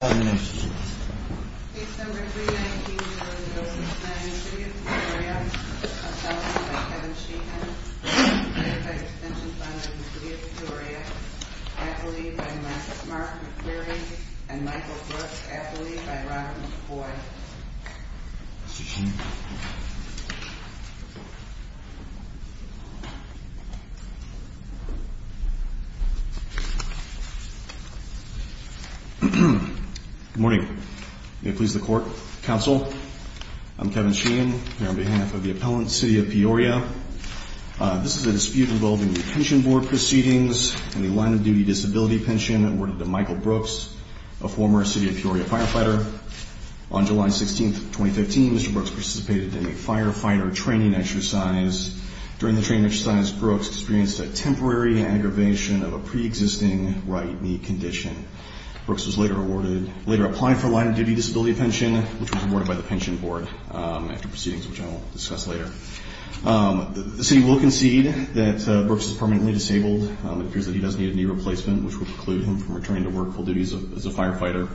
Case No. 319-0069, City of Peoria. Assault by Kevin Sheehan, Firefighters' Pension Fund of the City of Peoria. Affidavit by Mark McQueary and Michael Brooks. Affidavit by Robert McCoy. Good morning. May it please the Court, Counsel, I'm Kevin Sheehan here on behalf of the appellant, City of Peoria. This is a dispute involving the pension board proceedings and the line-of-duty disability pension awarded to Michael Brooks, a former City of Peoria firefighter. On July 16, 2015, Mr. Brooks participated in a firefighter training exercise. During the training exercise, Brooks experienced a temporary aggravation of a pre-existing right knee condition. Brooks was later awarded, later applied for a line-of-duty disability pension, which was awarded by the pension board after proceedings, which I will discuss later. The city will concede that Brooks is permanently disabled. It appears that he does need a knee replacement, which would preclude him from returning to workful duties as a firefighter.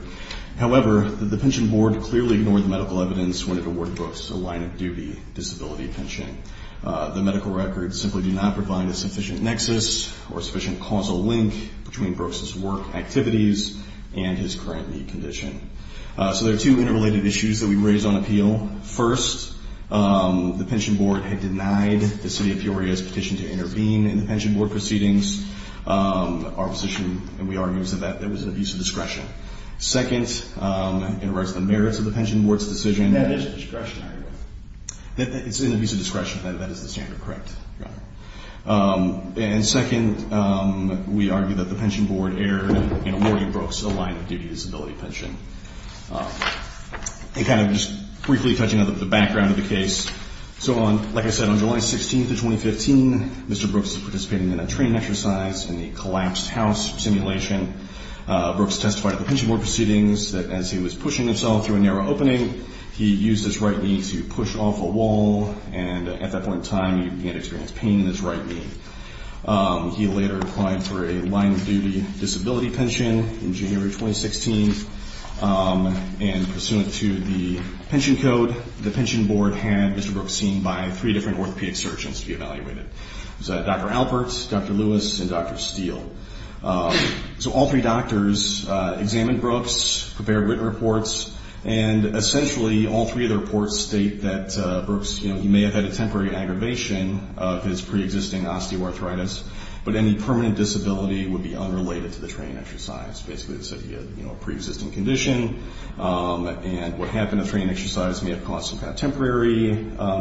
However, the pension board clearly ignored the medical evidence when it awarded Brooks a line-of-duty disability pension. The medical records simply do not provide a sufficient nexus or a sufficient causal link between Brooks' work activities and his current knee condition. So there are two interrelated issues that we raise on appeal. First, the pension board had denied the City of Peoria's petition to intervene in the pension board proceedings. Our position, and we argue, is that that was an abuse of discretion. Second, it reflects the merits of the pension board's decision. It's an abuse of discretion. That is the standard. Correct. And second, we argue that the pension board erred in awarding Brooks a line-of-duty disability pension. And kind of just briefly touching on the background of the case. So, like I said, on July 16th of 2015, Mr. Brooks was participating in a training exercise in the collapsed house simulation. Brooks testified at the pension board proceedings that as he was pushing himself through a narrow opening, he used his right knee to push off a wall, and at that point in time, he began to experience pain in his right knee. He later applied for a line-of-duty disability pension in January 2016. And pursuant to the pension code, the pension board had Mr. Brooks seen by three different orthopedic surgeons to be evaluated. It was Dr. Alpert, Dr. Lewis, and Dr. Steele. So all three doctors examined Brooks, prepared written reports, and essentially all three of the reports state that Brooks, you know, he may have had a temporary aggravation of his preexisting osteoarthritis, but any permanent disability would be unrelated to the training exercise. Basically, they said he had, you know, a preexisting condition, and what happened in the training exercise may have caused some kind of temporary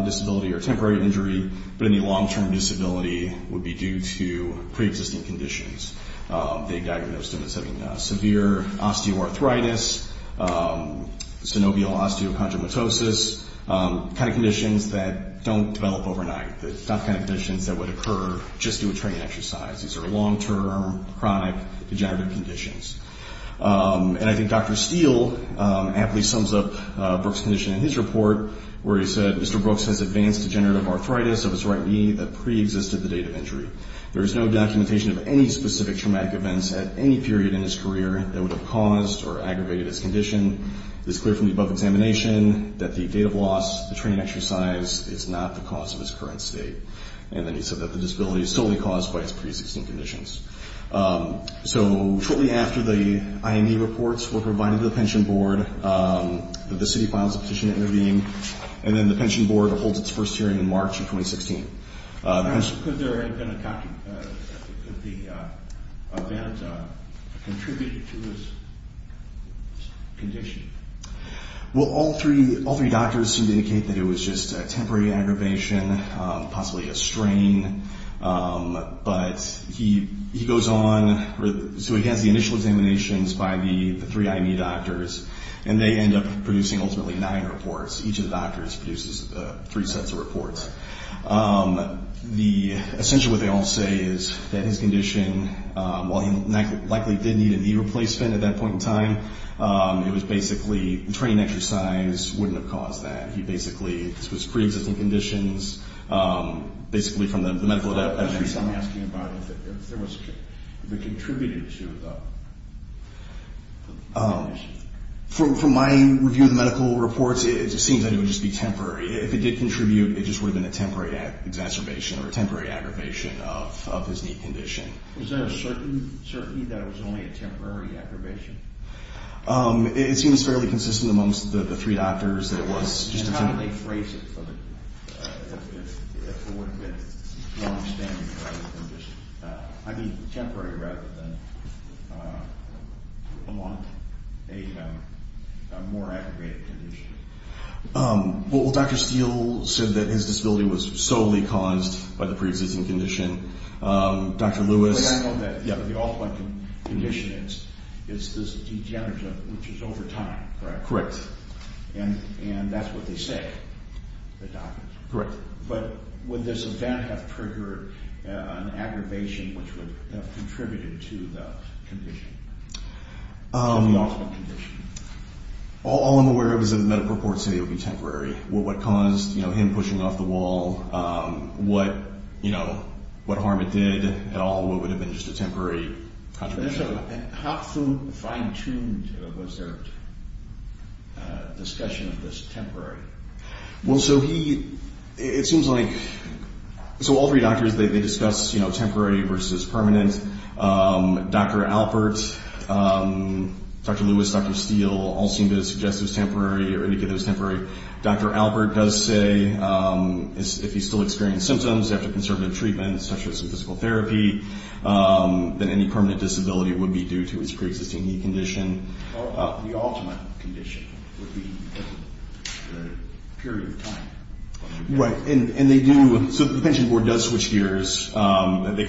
disability or temporary injury, but any long-term disability would be due to preexisting conditions. They diagnosed him as having severe osteoarthritis, synovial osteochondromatosis, the kind of conditions that don't develop overnight, the kind of conditions that would occur just through a training exercise. These are long-term, chronic degenerative conditions. And I think Dr. Steele aptly sums up Brooks' condition in his report, where he said, Mr. Brooks has advanced degenerative arthritis of his right knee that preexisted the date of injury. There is no documentation of any specific traumatic events at any period in his career that would have caused or aggravated his condition. It is clear from the above examination that the date of loss, the training exercise, is not the cause of his current state. And then he said that the disability is solely caused by his preexisting conditions. So shortly after the IME reports were provided to the pension board, the city filed a petition to intervene. And then the pension board holds its first hearing in March of 2016. Could the event contribute to his condition? Well, all three doctors seem to indicate that it was just a temporary aggravation, possibly a strain. But he goes on. So he has the initial examinations by the three IME doctors. And they end up producing ultimately nine reports. Each of the doctors produces three sets of reports. Essentially what they all say is that his condition, while he likely did need an knee replacement at that point in time, it was basically the training exercise wouldn't have caused that. This was preexisting conditions, basically from the medical evidence. I'm asking about if it contributed to the condition. From my review of the medical reports, it seems like it would just be temporary. If it did contribute, it just would have been a temporary exacerbation or a temporary aggravation of his knee condition. Is there a certainty that it was only a temporary aggravation? It seems fairly consistent amongst the three doctors that it was just a temporary aggravation. How do they phrase it if it would have been long-standing? I mean temporary rather than a more aggravated condition. Well, Dr. Steele said that his disability was solely caused by the preexisting condition. I know that the ultimate condition is this degenerative which is over time, correct? Correct. And that's what they say, the doctors. Correct. But would this event have triggered an aggravation which would have contributed to the condition, the ultimate condition? All I'm aware of is that the medical reports say it would be temporary. What caused him pushing off the wall? What harm it did at all? What would have been just a temporary contribution? How fine-tuned was their discussion of this temporary? Well, so he, it seems like, so all three doctors, they discussed temporary versus permanent. Dr. Alpert, Dr. Lewis, Dr. Steele all seemed to suggest it was temporary or indicated it was temporary. Dr. Alpert does say if he still experienced symptoms after conservative treatment such as physical therapy, that any permanent disability would be due to his preexisting knee condition. The ultimate condition would be the period of time. Right. And they do, so the pension board does switch gears. They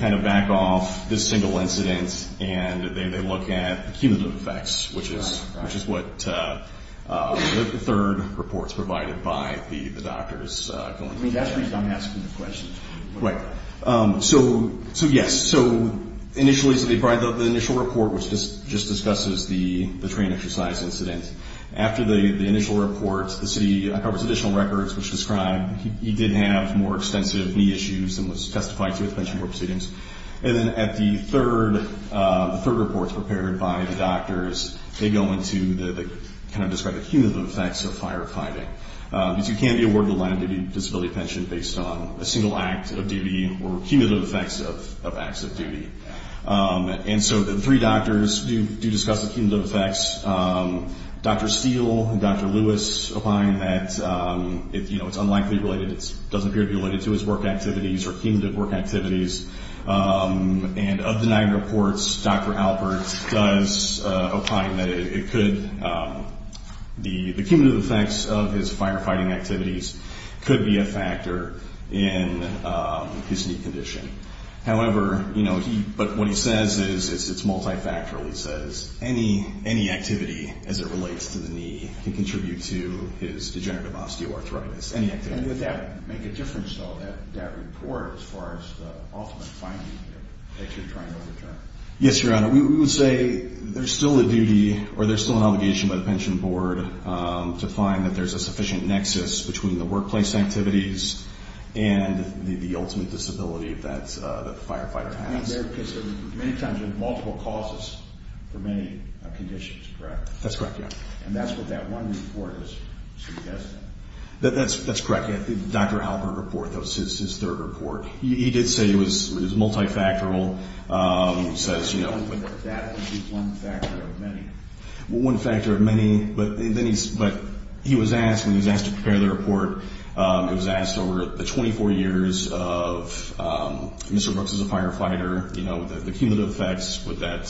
kind of back off this single incident and they look at the cumulative effects, which is what the third report's provided by the doctors. I mean, that's the reason I'm asking the questions. Right. So, yes, so initially the initial report which just discusses the train exercise incident, after the initial report the city covers additional records which describe he did have more extensive knee issues and was testified to at the pension board proceedings. And then at the third report prepared by the doctors, they go into the, kind of describe the cumulative effects of firefighting. Because you can't be awarded a line-of-duty disability pension based on a single act of duty or cumulative effects of acts of duty. And so the three doctors do discuss the cumulative effects. Dr. Steele and Dr. Lewis opine that, you know, it's unlikely related, it doesn't appear to be related to his work activities or cumulative work activities. And of the nine reports, Dr. Alberts does opine that it could, the cumulative effects of his firefighting activities could be a factor in his knee condition. However, you know, but what he says is it's multifactorial. He says any activity as it relates to the knee can contribute to his degenerative osteoarthritis. Any activity. And would that make a difference, though, that report as far as the ultimate finding that you're trying to overturn? Yes, Your Honor. We would say there's still a duty or there's still an obligation by the pension board to find that there's a sufficient nexus between the workplace activities and the ultimate disability that the firefighter has. There are many times with multiple causes for many conditions, correct? That's correct, yeah. And that's what that one report is suggesting? That's correct, yeah. The Dr. Albert report, that was his third report. He did say it was multifactorial. He says, you know, that would be one factor of many. Well, one factor of many, but he was asked, when he was asked to prepare the report, it was asked over the 24 years of Mr. Brooks as a firefighter, you know, the cumulative effects, would that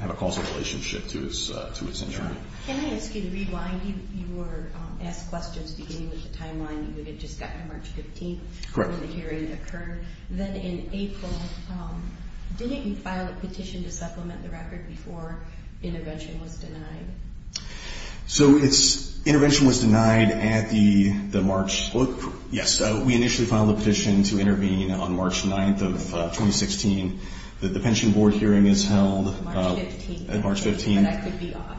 have a causal relationship to his injury? Sure. Can I ask you to rewind your asked questions beginning with the timeline? You had just gotten to March 15th when the hearing occurred. Then in April, didn't you file a petition to supplement the record before intervention was denied? So intervention was denied at the March, yes, we initially filed a petition to intervene on March 9th of 2016. The pension board hearing is held. March 15th. At March 15th. And I could be off.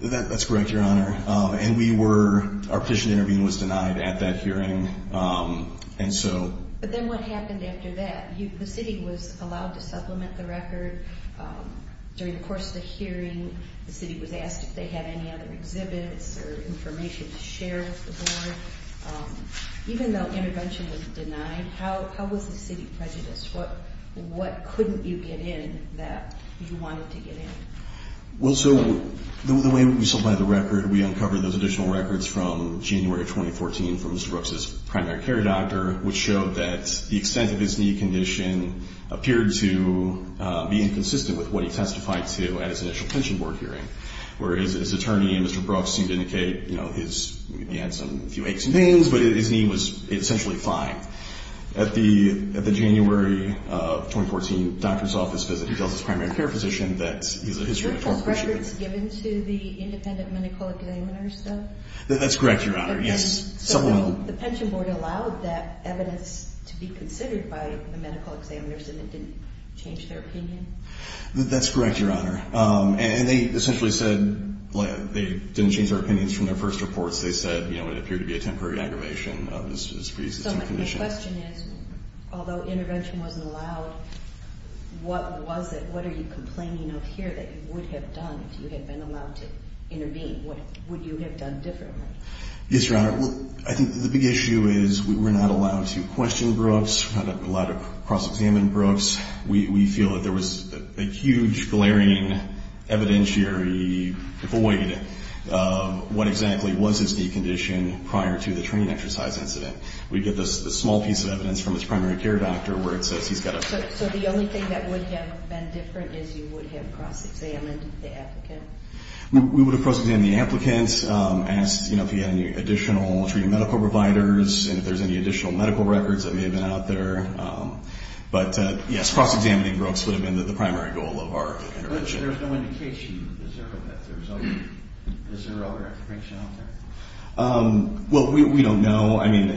That's correct, Your Honor. And we were, our petition to intervene was denied at that hearing, and so. But then what happened after that? The city was allowed to supplement the record during the course of the hearing. The city was asked if they had any other exhibits or information to share with the board. Even though intervention was denied, how was the city prejudiced? What couldn't you get in that you wanted to get in? Well, so the way we supplied the record, we uncovered those additional records from January 2014 from Mr. Brooks's primary care doctor, which showed that the extent of his knee condition appeared to be inconsistent with what he testified to at his initial pension board hearing, where his attorney and Mr. Brooks seemed to indicate, you know, he had some, a few aches and pains, but his knee was essentially fine. At the January of 2014 doctor's office visit, he tells his primary care physician that he's a history. Were those records given to the independent medical examiners, though? That's correct, Your Honor. So the pension board allowed that evidence to be considered by the medical examiners and it didn't change their opinion? That's correct, Your Honor. And they essentially said they didn't change their opinions from their first reports. They said, you know, it appeared to be a temporary aggravation of his previous condition. So my question is, although intervention wasn't allowed, what was it? What are you complaining of here that you would have done if you had been allowed to intervene? What would you have done differently? Yes, Your Honor, I think the big issue is we're not allowed to question Brooks, we're not allowed to cross-examine Brooks. We feel that there was a huge, glaring evidentiary void of what exactly was his knee condition prior to the training exercise incident. We get this small piece of evidence from his primary care doctor where it says he's got a... So the only thing that would have been different is you would have cross-examined the applicant? We would have cross-examined the applicant, asked, you know, if he had any additional treating medical providers and if there's any additional medical records that may have been out there. But, yes, cross-examining Brooks would have been the primary goal of our intervention. But there's no indication. Is there?.. Is there other information out there? Well, we don't know. I mean,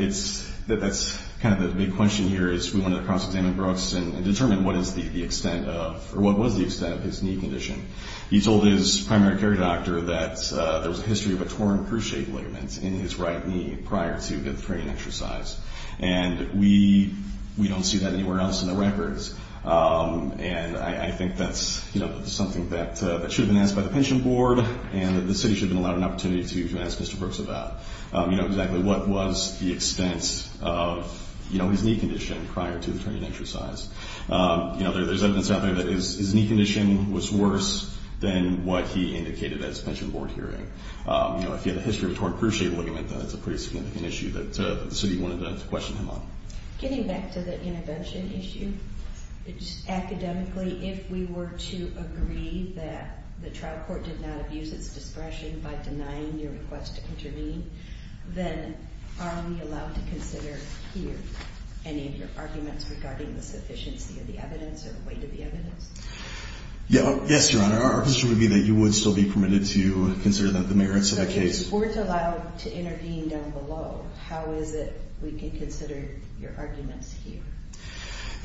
that's kind of the big question here is we wanted to cross-examine Brooks and determine what is the extent of, or what was the extent of his knee condition. He told his primary care doctor that there was a history of a torn cruciate ligament in his right knee prior to the training exercise. And we don't see that anywhere else in the records. And I think that's, you know, something that should have been asked by the pension board and the city should have been allowed an opportunity to ask Mr. Brooks about, you know, exactly what was the extent of, you know, his knee condition prior to the training exercise. You know, there's evidence out there that his knee condition was worse than what he indicated at his pension board hearing. You know, if you had a history of torn cruciate ligament, then that's a pretty significant issue that the city wanted to question him on. Getting back to the intervention issue, academically, if we were to agree that the trial court did not abuse its discretion by denying your request to intervene, then are we allowed to consider here any of your arguments regarding the sufficiency of the evidence or the weight of the evidence? Yes, Your Honor. Our position would be that you would still be permitted to consider the merits of that case. If the board is allowed to intervene down below, how is it we can consider your arguments here?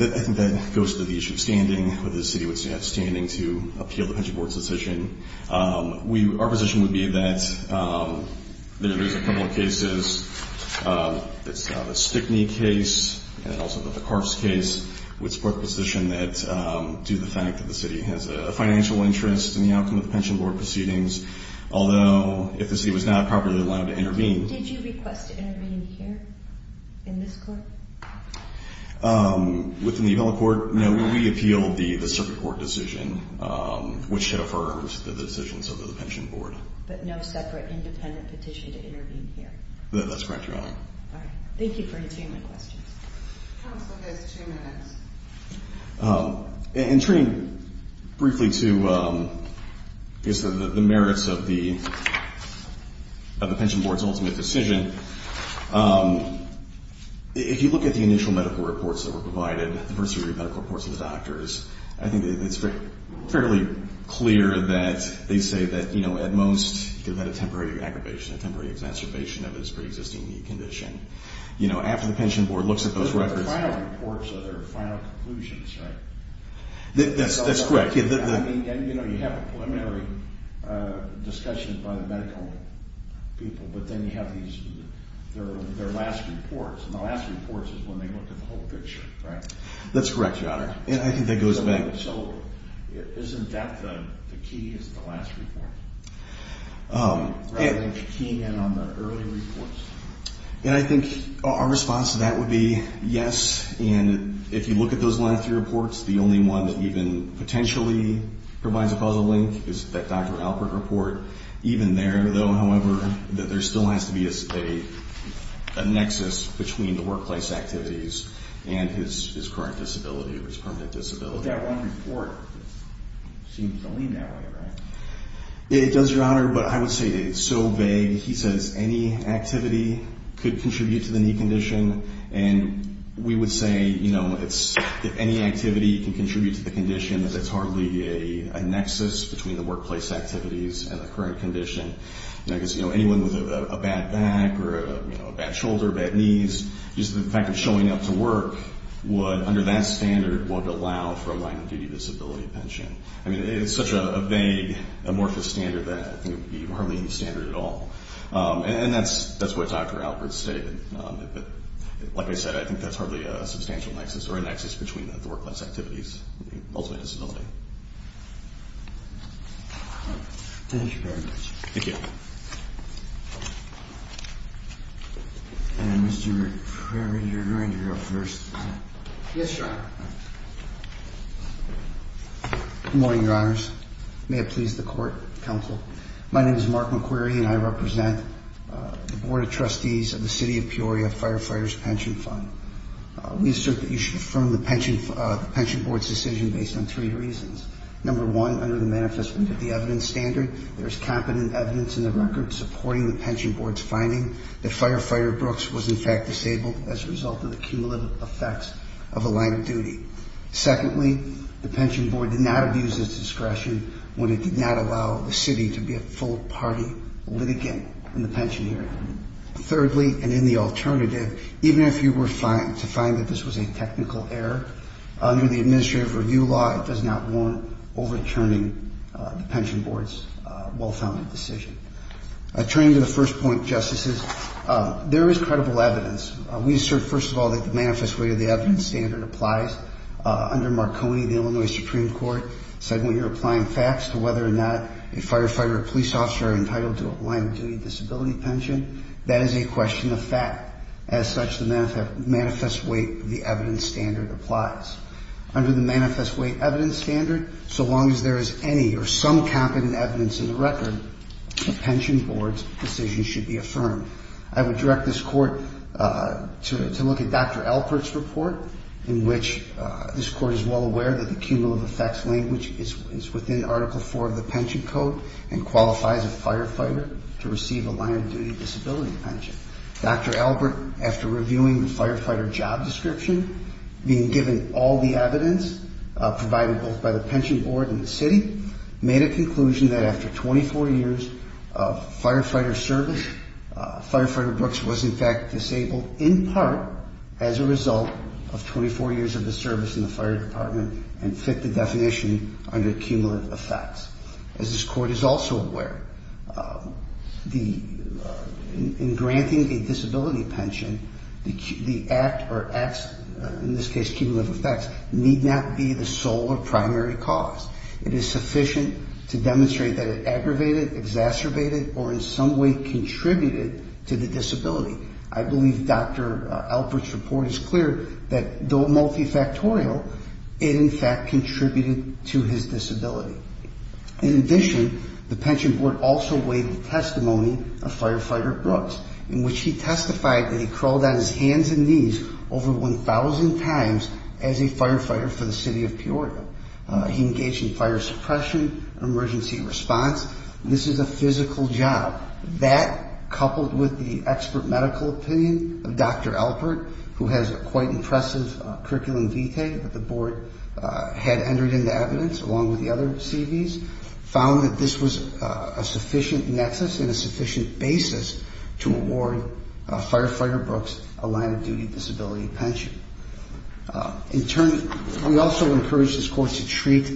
I think that goes to the issue of standing, whether the city would have standing to appeal the pension board's decision. Our position would be that there's a couple of cases. The Stickney case and also the Ficarce case would support the position that, due to the fact that the city has a financial interest in the outcome of the pension board proceedings, although if the city was not properly allowed to intervene. Did you request to intervene here in this court? Within the appellate court, no. We appealed the circuit court decision, which had affirmed the decisions of the pension board. But no separate independent petition to intervene here? That's correct, Your Honor. All right. Thank you for answering my questions. Counsel, you have two minutes. In turning briefly to the merits of the pension board's ultimate decision, if you look at the initial medical reports that were provided, the first three medical reports of the doctors, I think it's fairly clear that they say that, you know, at most, you could have had a temporary aggravation, a temporary exacerbation of his preexisting knee condition. You know, after the pension board looks at those records Those are the final reports of their final conclusions, right? That's correct. You know, you have a preliminary discussion by the medical people, but then you have their last reports, and the last reports is when they look at the whole picture, right? That's correct, Your Honor. And I think that goes back. So isn't that the key, is the last report? Rather than keying in on the early reports? And I think our response to that would be yes, and if you look at those last three reports, the only one that even potentially provides a causal link is that Dr. Alpert report. Even there, though, however, that there still has to be a nexus between the workplace activities and his current disability or his permanent disability. That one report seems to lead that way, right? It does, Your Honor, but I would say it's so vague. He says any activity could contribute to the knee condition, and we would say, you know, if any activity can contribute to the condition, it's hardly a nexus between the workplace activities and the current condition. I guess, you know, anyone with a bad back or a bad shoulder, bad knees, just the fact of showing up to work would, under that standard, would allow for a line-of-duty disability pension. I mean, it's such a vague, amorphous standard that I think it would be hardly any standard at all. And that's what Dr. Alpert stated. Like I said, I think that's hardly a substantial nexus or a nexus between the workplace activities and the ultimate disability. Thank you very much. Thank you. Mr. McQuarrie, you're up first. Yes, Your Honor. Good morning, Your Honors. May it please the court, counsel. My name is Mark McQuarrie, and I represent the Board of Trustees of the City of Peoria Firefighters Pension Fund. We assert that you should affirm the Pension Board's decision based on three reasons. Number one, under the manifest, we have the evidence standard. There is competent evidence in the record supporting the Pension Board's finding that Firefighter Brooks was in fact disabled as a result of the cumulative effects of a line of duty. Secondly, the Pension Board did not abuse its discretion when it did not allow the city to be a full-party litigant in the pension area. Thirdly, and in the alternative, even if you were to find that this was a technical error, under the administrative review law, it does not warrant overturning the Pension Board's well-founded decision. Turning to the first point, Justices, there is credible evidence. We assert, first of all, that the manifest weight of the evidence standard applies. Under Marconi, the Illinois Supreme Court said when you're applying facts to whether or not a firefighter or police officer are entitled to a line-of-duty disability pension, that is a question of fact. As such, the manifest weight of the evidence standard applies. Under the manifest weight evidence standard, so long as there is any or some competent evidence in the record, the Pension Board's decision should be affirmed. I would direct this Court to look at Dr. Albert's report, in which this Court is well aware that the cumulative effects language is within Article IV of the Pension Code and qualifies a firefighter to receive a line-of-duty disability pension. Dr. Albert, after reviewing the firefighter job description, being given all the evidence provided both by the Pension Board and the city, made a conclusion that after 24 years of firefighter service, firefighter Brooks was in fact disabled, in part, as a result of 24 years of his service in the fire department and fit the definition under cumulative effects. As this Court is also aware, in granting a disability pension, the act or acts, in this case cumulative effects, need not be the sole or primary cause. It is sufficient to demonstrate that it aggravated, exacerbated, or in some way contributed to the disability. I believe Dr. Albert's report is clear that, though multifactorial, it in fact contributed to his disability. In addition, the Pension Board also weighed the testimony of firefighter Brooks, in which he testified that he crawled on his hands and knees over 1,000 times as a firefighter for the city of Peoria. He engaged in fire suppression, emergency response. This is a physical job. That, coupled with the expert medical opinion of Dr. Albert, who has a quite impressive curriculum vitae that the Board had entered into evidence, along with the other CVs, found that this was a sufficient nexus and a sufficient basis to award firefighter Brooks a line-of-duty disability pension. In turn, we also encouraged this Court to treat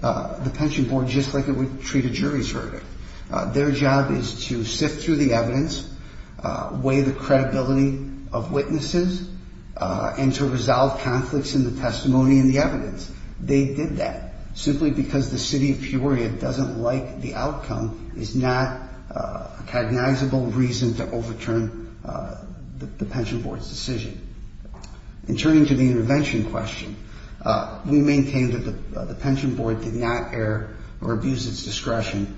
the Pension Board just like it would treat a jury's verdict. Their job is to sift through the evidence, weigh the credibility of witnesses, and to resolve conflicts in the testimony and the evidence. They did that simply because the city of Peoria doesn't like the outcome, is not a cognizable reason to overturn the Pension Board's decision. In turning to the intervention question, we maintain that the Pension Board did not err or abuse its discretion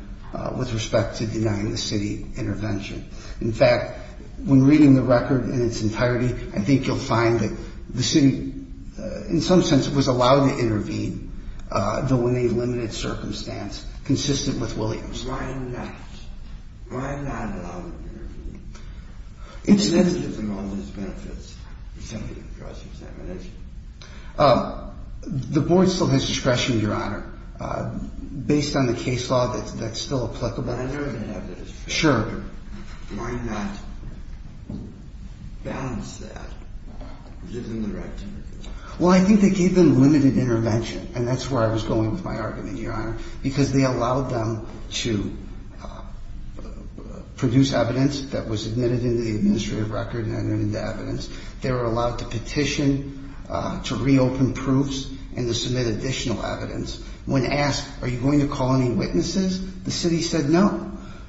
with respect to denying the city intervention. In fact, when reading the record in its entirety, I think you'll find that the city, in some sense, was allowed to intervene, though in a limited circumstance, consistent with Williams. Why not? Why not allow them to intervene? It's sensitive to all these benefits. It's simply a cross-examination. The Board still has discretion, Your Honor. Based on the case law, that's still applicable. I know they have discretion. Sure. Why not balance that? Give them the right to intervene. Well, I think they gave them limited intervention, and that's where I was going with my argument, Your Honor, because they allowed them to produce evidence that was admitted into the administrative record and entered into evidence. They were allowed to petition, to reopen proofs, and to submit additional evidence. When asked, are you going to call any witnesses, the city said no.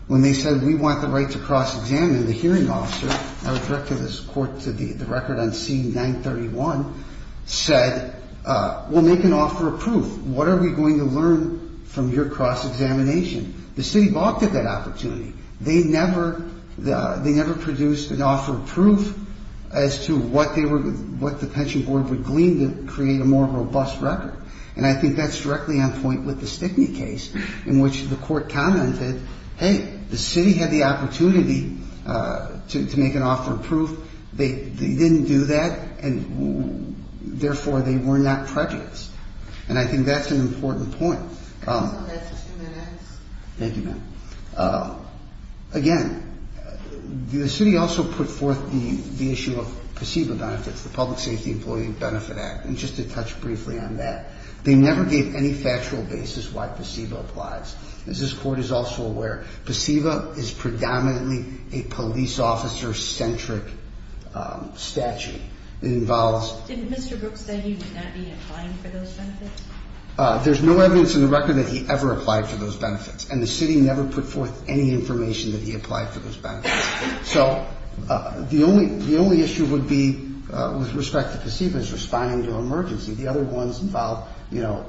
When they said, we want the right to cross-examine, the hearing officer, I would direct this court to the record on C-931, said, well, make an offer of proof. What are we going to learn from your cross-examination? The city balked at that opportunity. They never produced an offer of proof as to what the Pension Board would glean to create a more robust record, and I think that's directly on point with the Stickney case, in which the court commented, hey, the city had the opportunity to make an offer of proof. They didn't do that, and therefore, they were not prejudiced, and I think that's an important point. Can you tell that for two minutes? Thank you, ma'am. Again, the city also put forth the issue of PACEBA benefits, the Public Safety Employee Benefit Act, and just to touch briefly on that, they never gave any factual basis why PACEBA applies. As this court is also aware, PACEBA is predominantly a police officer-centric statute. Didn't Mr. Brooks say he would not be applying for those benefits? There's no evidence in the record that he ever applied for those benefits, and the city never put forth any information that he applied for those benefits. So the only issue would be, with respect to PACEBA, is responding to an emergency. The other ones involve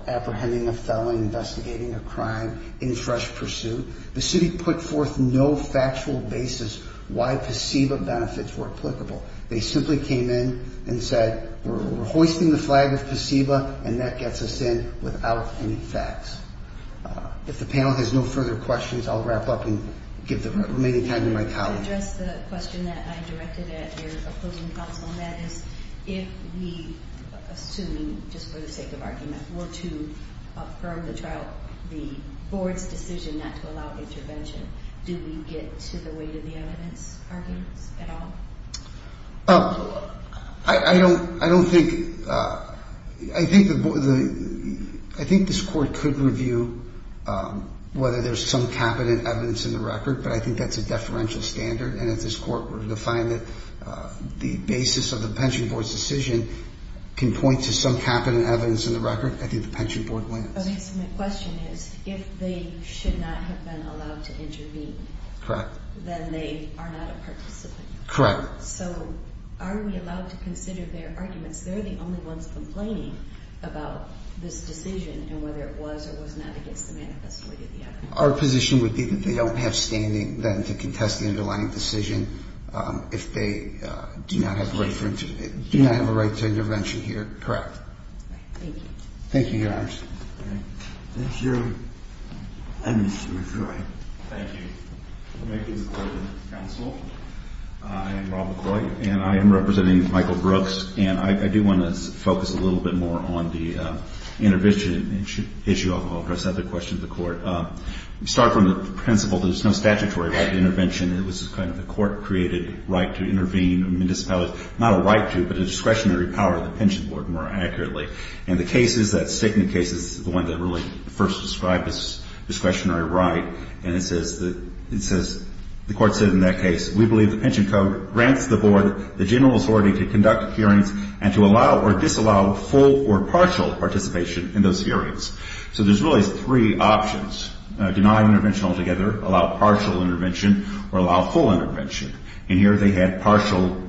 apprehending a felon, investigating a crime, and fresh pursuit. The city put forth no factual basis why PACEBA benefits were applicable. They simply came in and said, we're hoisting the flag of PACEBA, and that gets us in without any facts. If the panel has no further questions, I'll wrap up and give the remaining time to my colleague. I'll address the question that I directed at your opposing counsel, and that is, if we assume, just for the sake of argument, were to affirm the board's decision not to allow intervention, do we get to the weight of the evidence arguments at all? I think this court could review whether there's some capital evidence in the record, but I think that's a deferential standard, and if this court were to find that the basis of the pension board's decision can point to some capital evidence in the record, I think the pension board wins. Okay, so my question is, if they should not have been allowed to intervene, then they are not a participant. Correct. So are we allowed to consider their arguments? They're the only ones complaining about this decision, and whether it was or was not against the manifesto weight of the evidence. Our position would be that they don't have standing, then, to contest the underlying decision if they do not have a right to intervention here. Correct. Thank you. Thank you, Your Honors. Thank you. And Mr. McCoy. Thank you. Thank you, Mr. Court of Counsel. I am Rob McCoy, and I am representing Michael Brooks, and I do want to focus a little bit more on the intervention issue. I'll address the other question to the Court. We start from the principle that there's no statutory right to intervention. It was kind of the Court-created right to intervene. Not a right to, but a discretionary power of the pension board, more accurately. And the cases that stick in the cases, the one that really first described this discretionary right, and it says the Court said in that case, we believe the pension code grants the board the general authority to conduct hearings and to allow or disallow full or partial participation in those hearings. So there's really three options. Deny intervention altogether, allow partial intervention, or allow full intervention. And here they had partial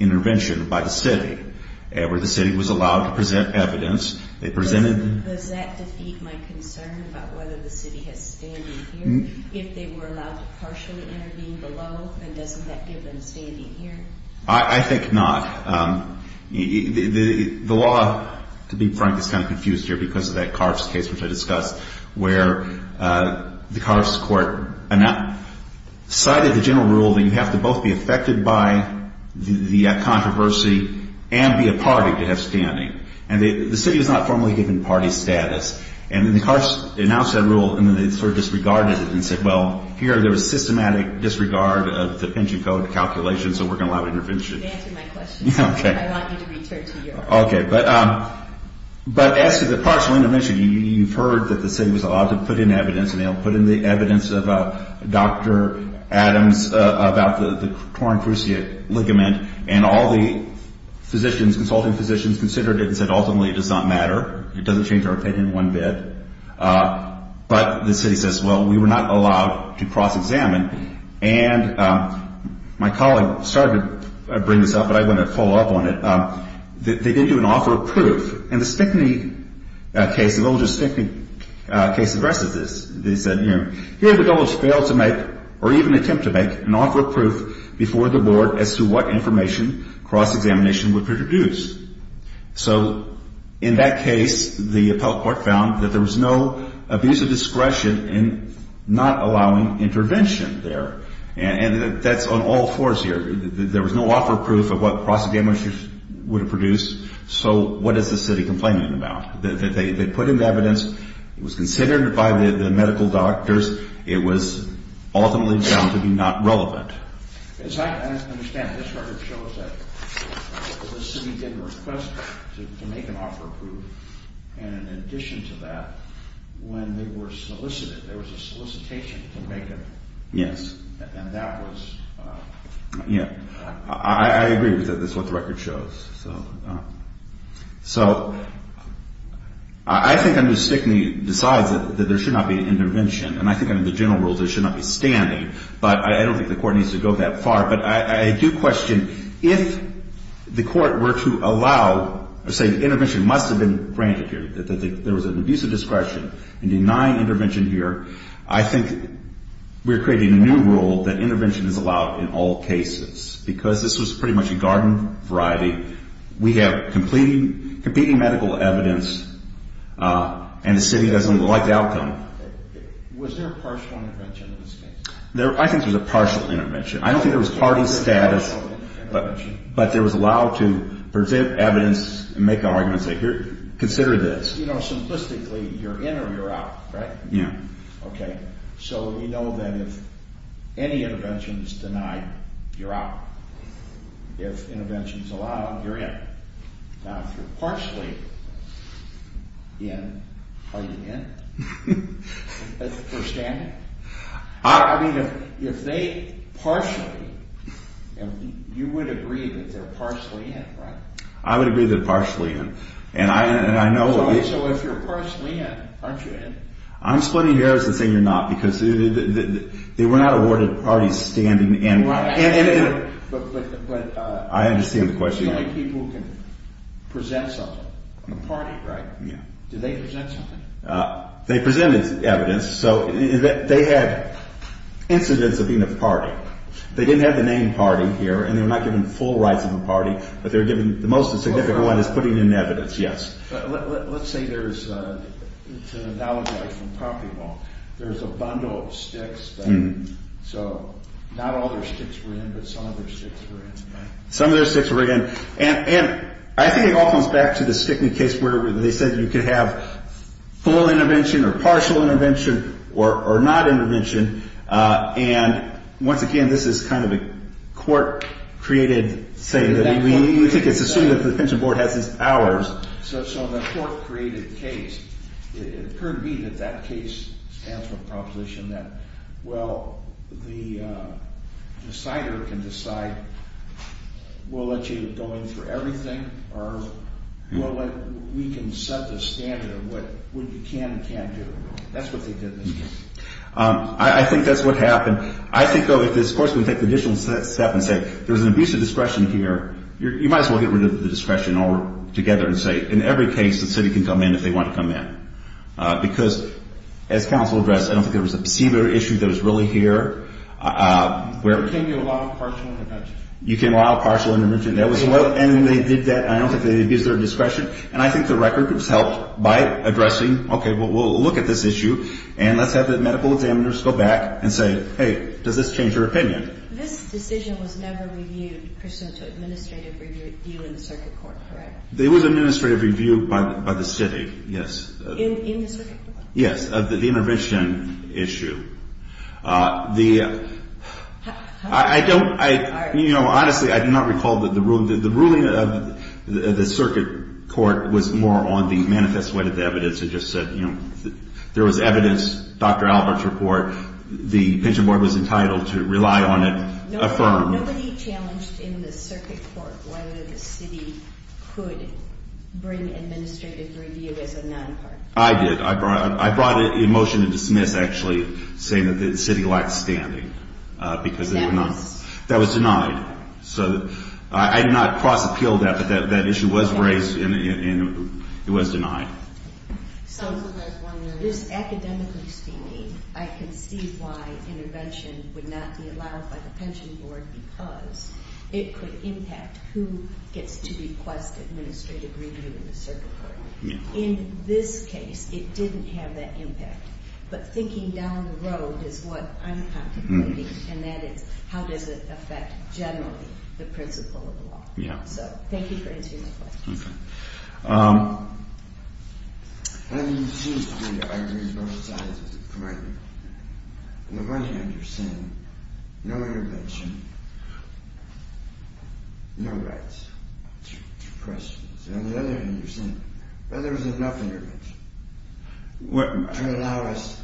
intervention by the city, where the city was allowed to present evidence. Does that defeat my concern about whether the city has standing here? If they were allowed to partially intervene below, then doesn't that give them standing here? I think not. The law, to be frank, is kind of confused here because of that Carves case which I discussed, where the Carves Court decided the general rule that you have to both be affected by the controversy and be a party to have standing. And the city was not formally given party status. And then the Carves announced that rule, and then they sort of disregarded it and said, well, here there was systematic disregard of the pension code calculations, and so we're going to allow intervention. You didn't answer my question. Okay. I want you to return to yours. Okay. But as to the partial intervention, you've heard that the city was allowed to put in evidence, and they'll put in the evidence of Dr. Adams about the torn cruciate ligament. And all the physicians, consulting physicians, considered it and said, ultimately, it does not matter. It doesn't change our opinion one bit. But the city says, well, we were not allowed to cross-examine. And my colleague started to bring this up, but I'm going to follow up on it. They didn't do an offer of proof. In the Stickney case, the little Stickney case, the rest of this, they said, you know, here the governors failed to make or even attempt to make an offer of proof before the board as to what information cross-examination would produce. So in that case, the appellate court found that there was no abuse of discretion in not allowing intervention there. And that's on all fours here. There was no offer of proof of what cross-examination would have produced. So what is the city complaining about? They put in the evidence. It was considered by the medical doctors. It was ultimately found to be not relevant. As I understand it, this record shows that the city did request to make an offer of proof. And in addition to that, when they were solicited, there was a solicitation to make it. Yes. And that was... Yeah. I agree with that. That's what the record shows. So I think under Stickney, besides that there should not be an intervention, and I think under the general rules there should not be standing, but I don't think the court needs to go that far. But I do question if the court were to allow, or say intervention must have been granted here, that there was an abuse of discretion in denying intervention here. I think we're creating a new rule that intervention is allowed in all cases because this was pretty much a garden variety. We have competing medical evidence, and the city doesn't like the outcome. Was there a partial intervention in this case? I think there was a partial intervention. I don't think there was party status, but there was allowed to present evidence and make an argument and say consider this. You know, simplistically, you're in or you're out, right? Yeah. Okay. So we know that if any intervention is denied, you're out. If intervention is allowed, you're in. Now, if you're partially in, are you in? That's the first standard. I mean, if they partially, you would agree that they're partially in, right? I would agree they're partially in. So if you're partially in, aren't you in? I'm splitting errors and saying you're not because they were not awarded parties standing in. Right. I understand the question. It's the only people who can present something. The party, right? Yeah. Did they present something? They presented evidence. So they had incidents of being a party. They didn't have the name party here, and they were not given full rights of a party, but they were given the most significant one is putting in evidence, yes. Let's say there's, to analogize from property law, there's a bundle of sticks. So not all their sticks were in, but some of their sticks were in, right? Some of their sticks were in. And I think it all comes back to the Stickney case where they said you could have full intervention or partial intervention or not intervention. And once again, this is kind of a court-created thing. We think it's assumed that the Pension Board has these powers. So the court-created case, it occurred to me that that case stands for a proposition that, well, the decider can decide we'll let you go in for everything or we can set the standard of what you can and can't do. That's what they did in this case. I think that's what happened. I think, though, if this court's going to take the additional step and say, there's an abuse of discretion here, you might as well get rid of the discretion altogether and say in every case the city can come in if they want to come in. Because as counsel addressed, I don't think there was a perceiver issue that was really here. There came a law of partial intervention. You came to a law of partial intervention. And they did that. I don't think they abused their discretion. And I think the record was helped by addressing, okay, well, we'll look at this issue and let's have the medical examiners go back and say, hey, does this change your opinion? This decision was never reviewed pursuant to administrative review in the circuit court, correct? It was administrative review by the city, yes. In the circuit court? Yes, of the intervention issue. I don't, you know, honestly, I do not recall that the ruling of the circuit court was more on the manifest way to the evidence. It just said, you know, there was evidence, Dr. Albert's report, the pension board was entitled to rely on it, affirm. Nobody challenged in the circuit court whether the city could bring administrative review as a non-part. I did. I brought a motion to dismiss, actually, saying that the city lacked standing because it was not. That was denied. So I did not cross-appeal that, but that issue was raised and it was denied. This is academically steamy. I can see why intervention would not be allowed by the pension board because it could impact who gets to request administrative review in the circuit court. In this case, it didn't have that impact. But thinking down the road is what I'm contemplating, and that is how does it affect generally the principle of the law. So thank you for answering my questions. Okay. I mean, it seems to me that I agree with both sides of the argument. On the one hand, you're saying no intervention, no rights to questions. And on the other hand, you're saying, well, there was enough intervention to allow us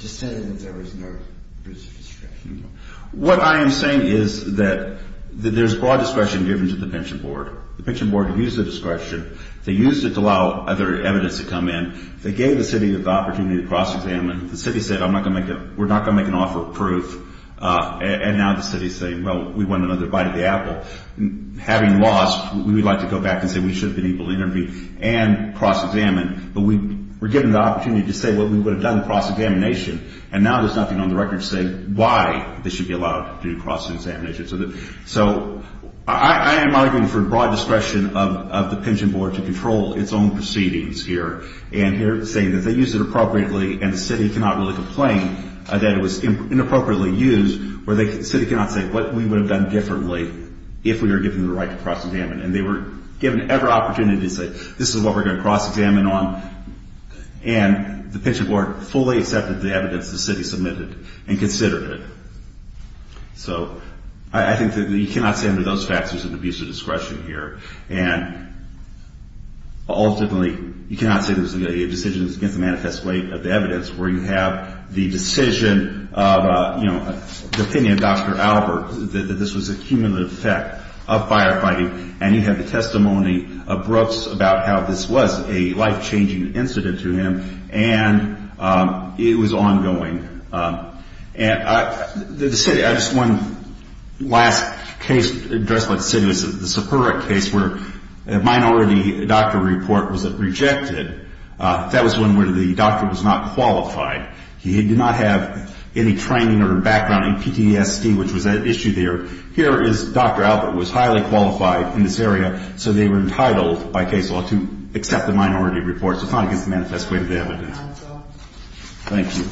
to say that there was no abuse of discretion. What I am saying is that there's broad discretion given to the pension board. The pension board used the discretion. They used it to allow other evidence to come in. They gave the city the opportunity to cross-examine. The city said we're not going to make an offer of proof, and now the city is saying, well, we want another bite of the apple. Having lost, we would like to go back and say we should have been able to intervene and cross-examine, but we were given the opportunity to say what we would have done in cross-examination, and now there's nothing on the record to say why this should be allowed to do cross-examination. So I am arguing for broad discretion of the pension board to control its own proceedings here, and here it's saying that they used it appropriately, and the city cannot really complain that it was inappropriately used, where the city cannot say what we would have done differently if we were given the right to cross-examine. And they were given every opportunity to say this is what we're going to cross-examine on, and the pension board fully accepted the evidence the city submitted and considered it. So I think that you cannot say under those factors there's an abuse of discretion here, and ultimately you cannot say there's a decision that's against the manifest weight of the evidence where you have the decision of, you know, the opinion of Dr. Albert that this was a cumulative effect of firefighting, and you have the testimony of Brooks about how this was a life-changing incident to him, and it was ongoing. And the city – I just – one last case addressed by the city was the Sapura case where a minority doctor report was rejected. That was one where the doctor was not qualified. He did not have any training or background in PTSD, which was an issue there. Here is Dr. Albert was highly qualified in this area, so they were entitled by case law to accept the minority report. So it's not against the manifest weight of the evidence. Thank you.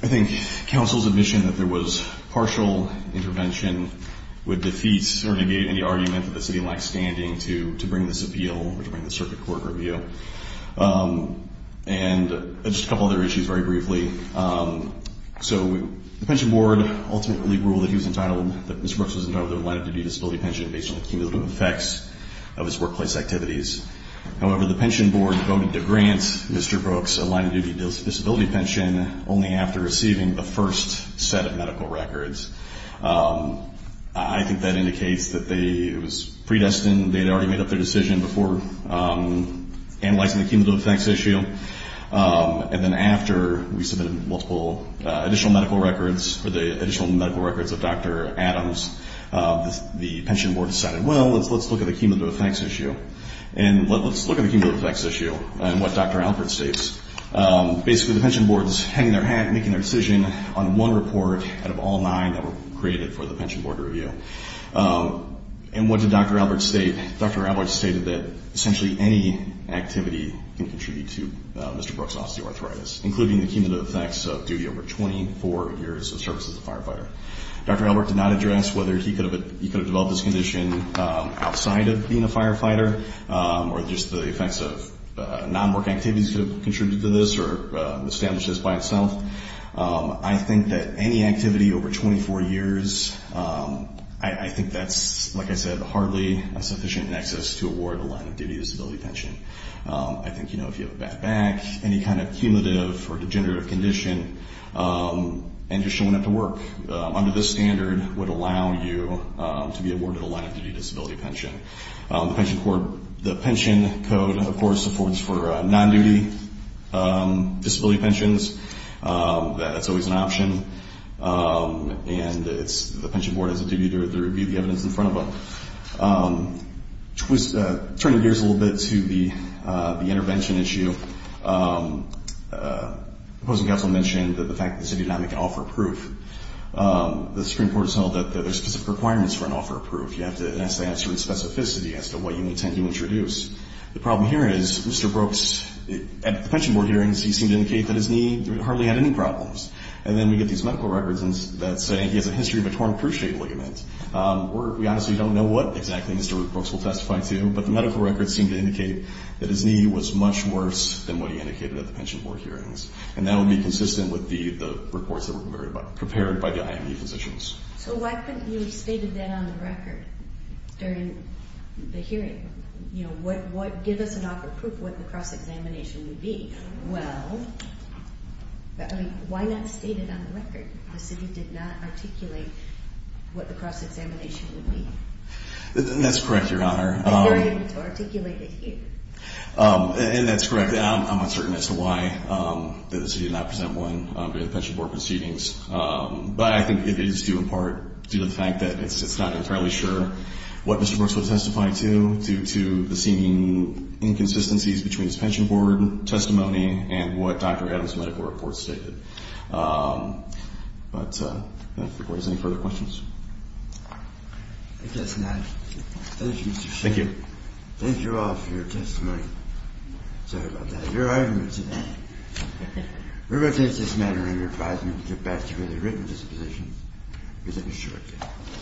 I think counsel's admission that there was partial intervention would defeat or negate any argument that the city lacks standing to bring this appeal or to bring the circuit court review. And just a couple other issues very briefly. So the pension board ultimately ruled that he was entitled – that Mr. Brooks was entitled to a line-of-duty disability pension based on the cumulative effects of his workplace activities. However, the pension board voted to grant Mr. Brooks a line-of-duty disability pension only after receiving the first set of medical records. I think that indicates that they – it was predestined. They had already made up their decision before analyzing the cumulative effects issue. And then after we submitted multiple additional medical records, or the additional medical records of Dr. Adams, the pension board decided, well, let's look at the cumulative effects issue. And let's look at the cumulative effects issue and what Dr. Albert states. Basically, the pension board is hanging their hat and making their decision on one report out of all nine that were created for the pension board review. And what did Dr. Albert state? Dr. Albert stated that essentially any activity can contribute to Mr. Brooks' osteoarthritis, including the cumulative effects of duty over 24 years of service as a firefighter. Dr. Albert did not address whether he could have developed this condition outside of being a firefighter or just the effects of non-work activities could have contributed to this or established this by itself. I think that any activity over 24 years, I think that's, like I said, hardly a sufficient nexus to award a line-of-duty disability pension. I think, you know, if you have a bad back, any kind of cumulative or degenerative condition, and you're showing up to work, under this standard, would allow you to be awarded a line-of-duty disability pension. The pension code, of course, supports for non-duty disability pensions. That's always an option, and the pension board has a duty to review the evidence in front of them. Turning gears a little bit to the intervention issue, the opposing counsel mentioned the fact that the city of Atlanta can offer proof. The Supreme Court has held that there are specific requirements for an offer of proof. You have to ask the answer in specificity as to what you intend to introduce. The problem here is Mr. Brooks, at the pension board hearings, he seemed to indicate that his knee hardly had any problems. And then we get these medical records that say he has a history of a torn cruciate ligament. We honestly don't know what exactly Mr. Brooks will testify to, but the medical records seem to indicate that his knee was much worse than what he indicated at the pension board hearings. And that would be consistent with the reports that were prepared by the IMD physicians. So why couldn't you have stated that on the record during the hearing? You know, give us an offer of proof of what the cross-examination would be. I don't know. Why not state it on the record? The city did not articulate what the cross-examination would be. That's correct, Your Honor. But you're able to articulate it here. And that's correct. I'm uncertain as to why the city did not present one during the pension board proceedings. But I think it is due, in part, due to the fact that it's not entirely sure what Mr. Brooks will testify to, due to the seeming inconsistencies between his pension board testimony and what Dr. Adams' medical reports stated. But I don't think there's any further questions. If that's an option. Thank you, Mr. Sheehan. Thank you. Thank you all for your testimony. Sorry about that. Your arguments and that. We're going to take this matter under advisement and get back to where the written disposition is in a short time.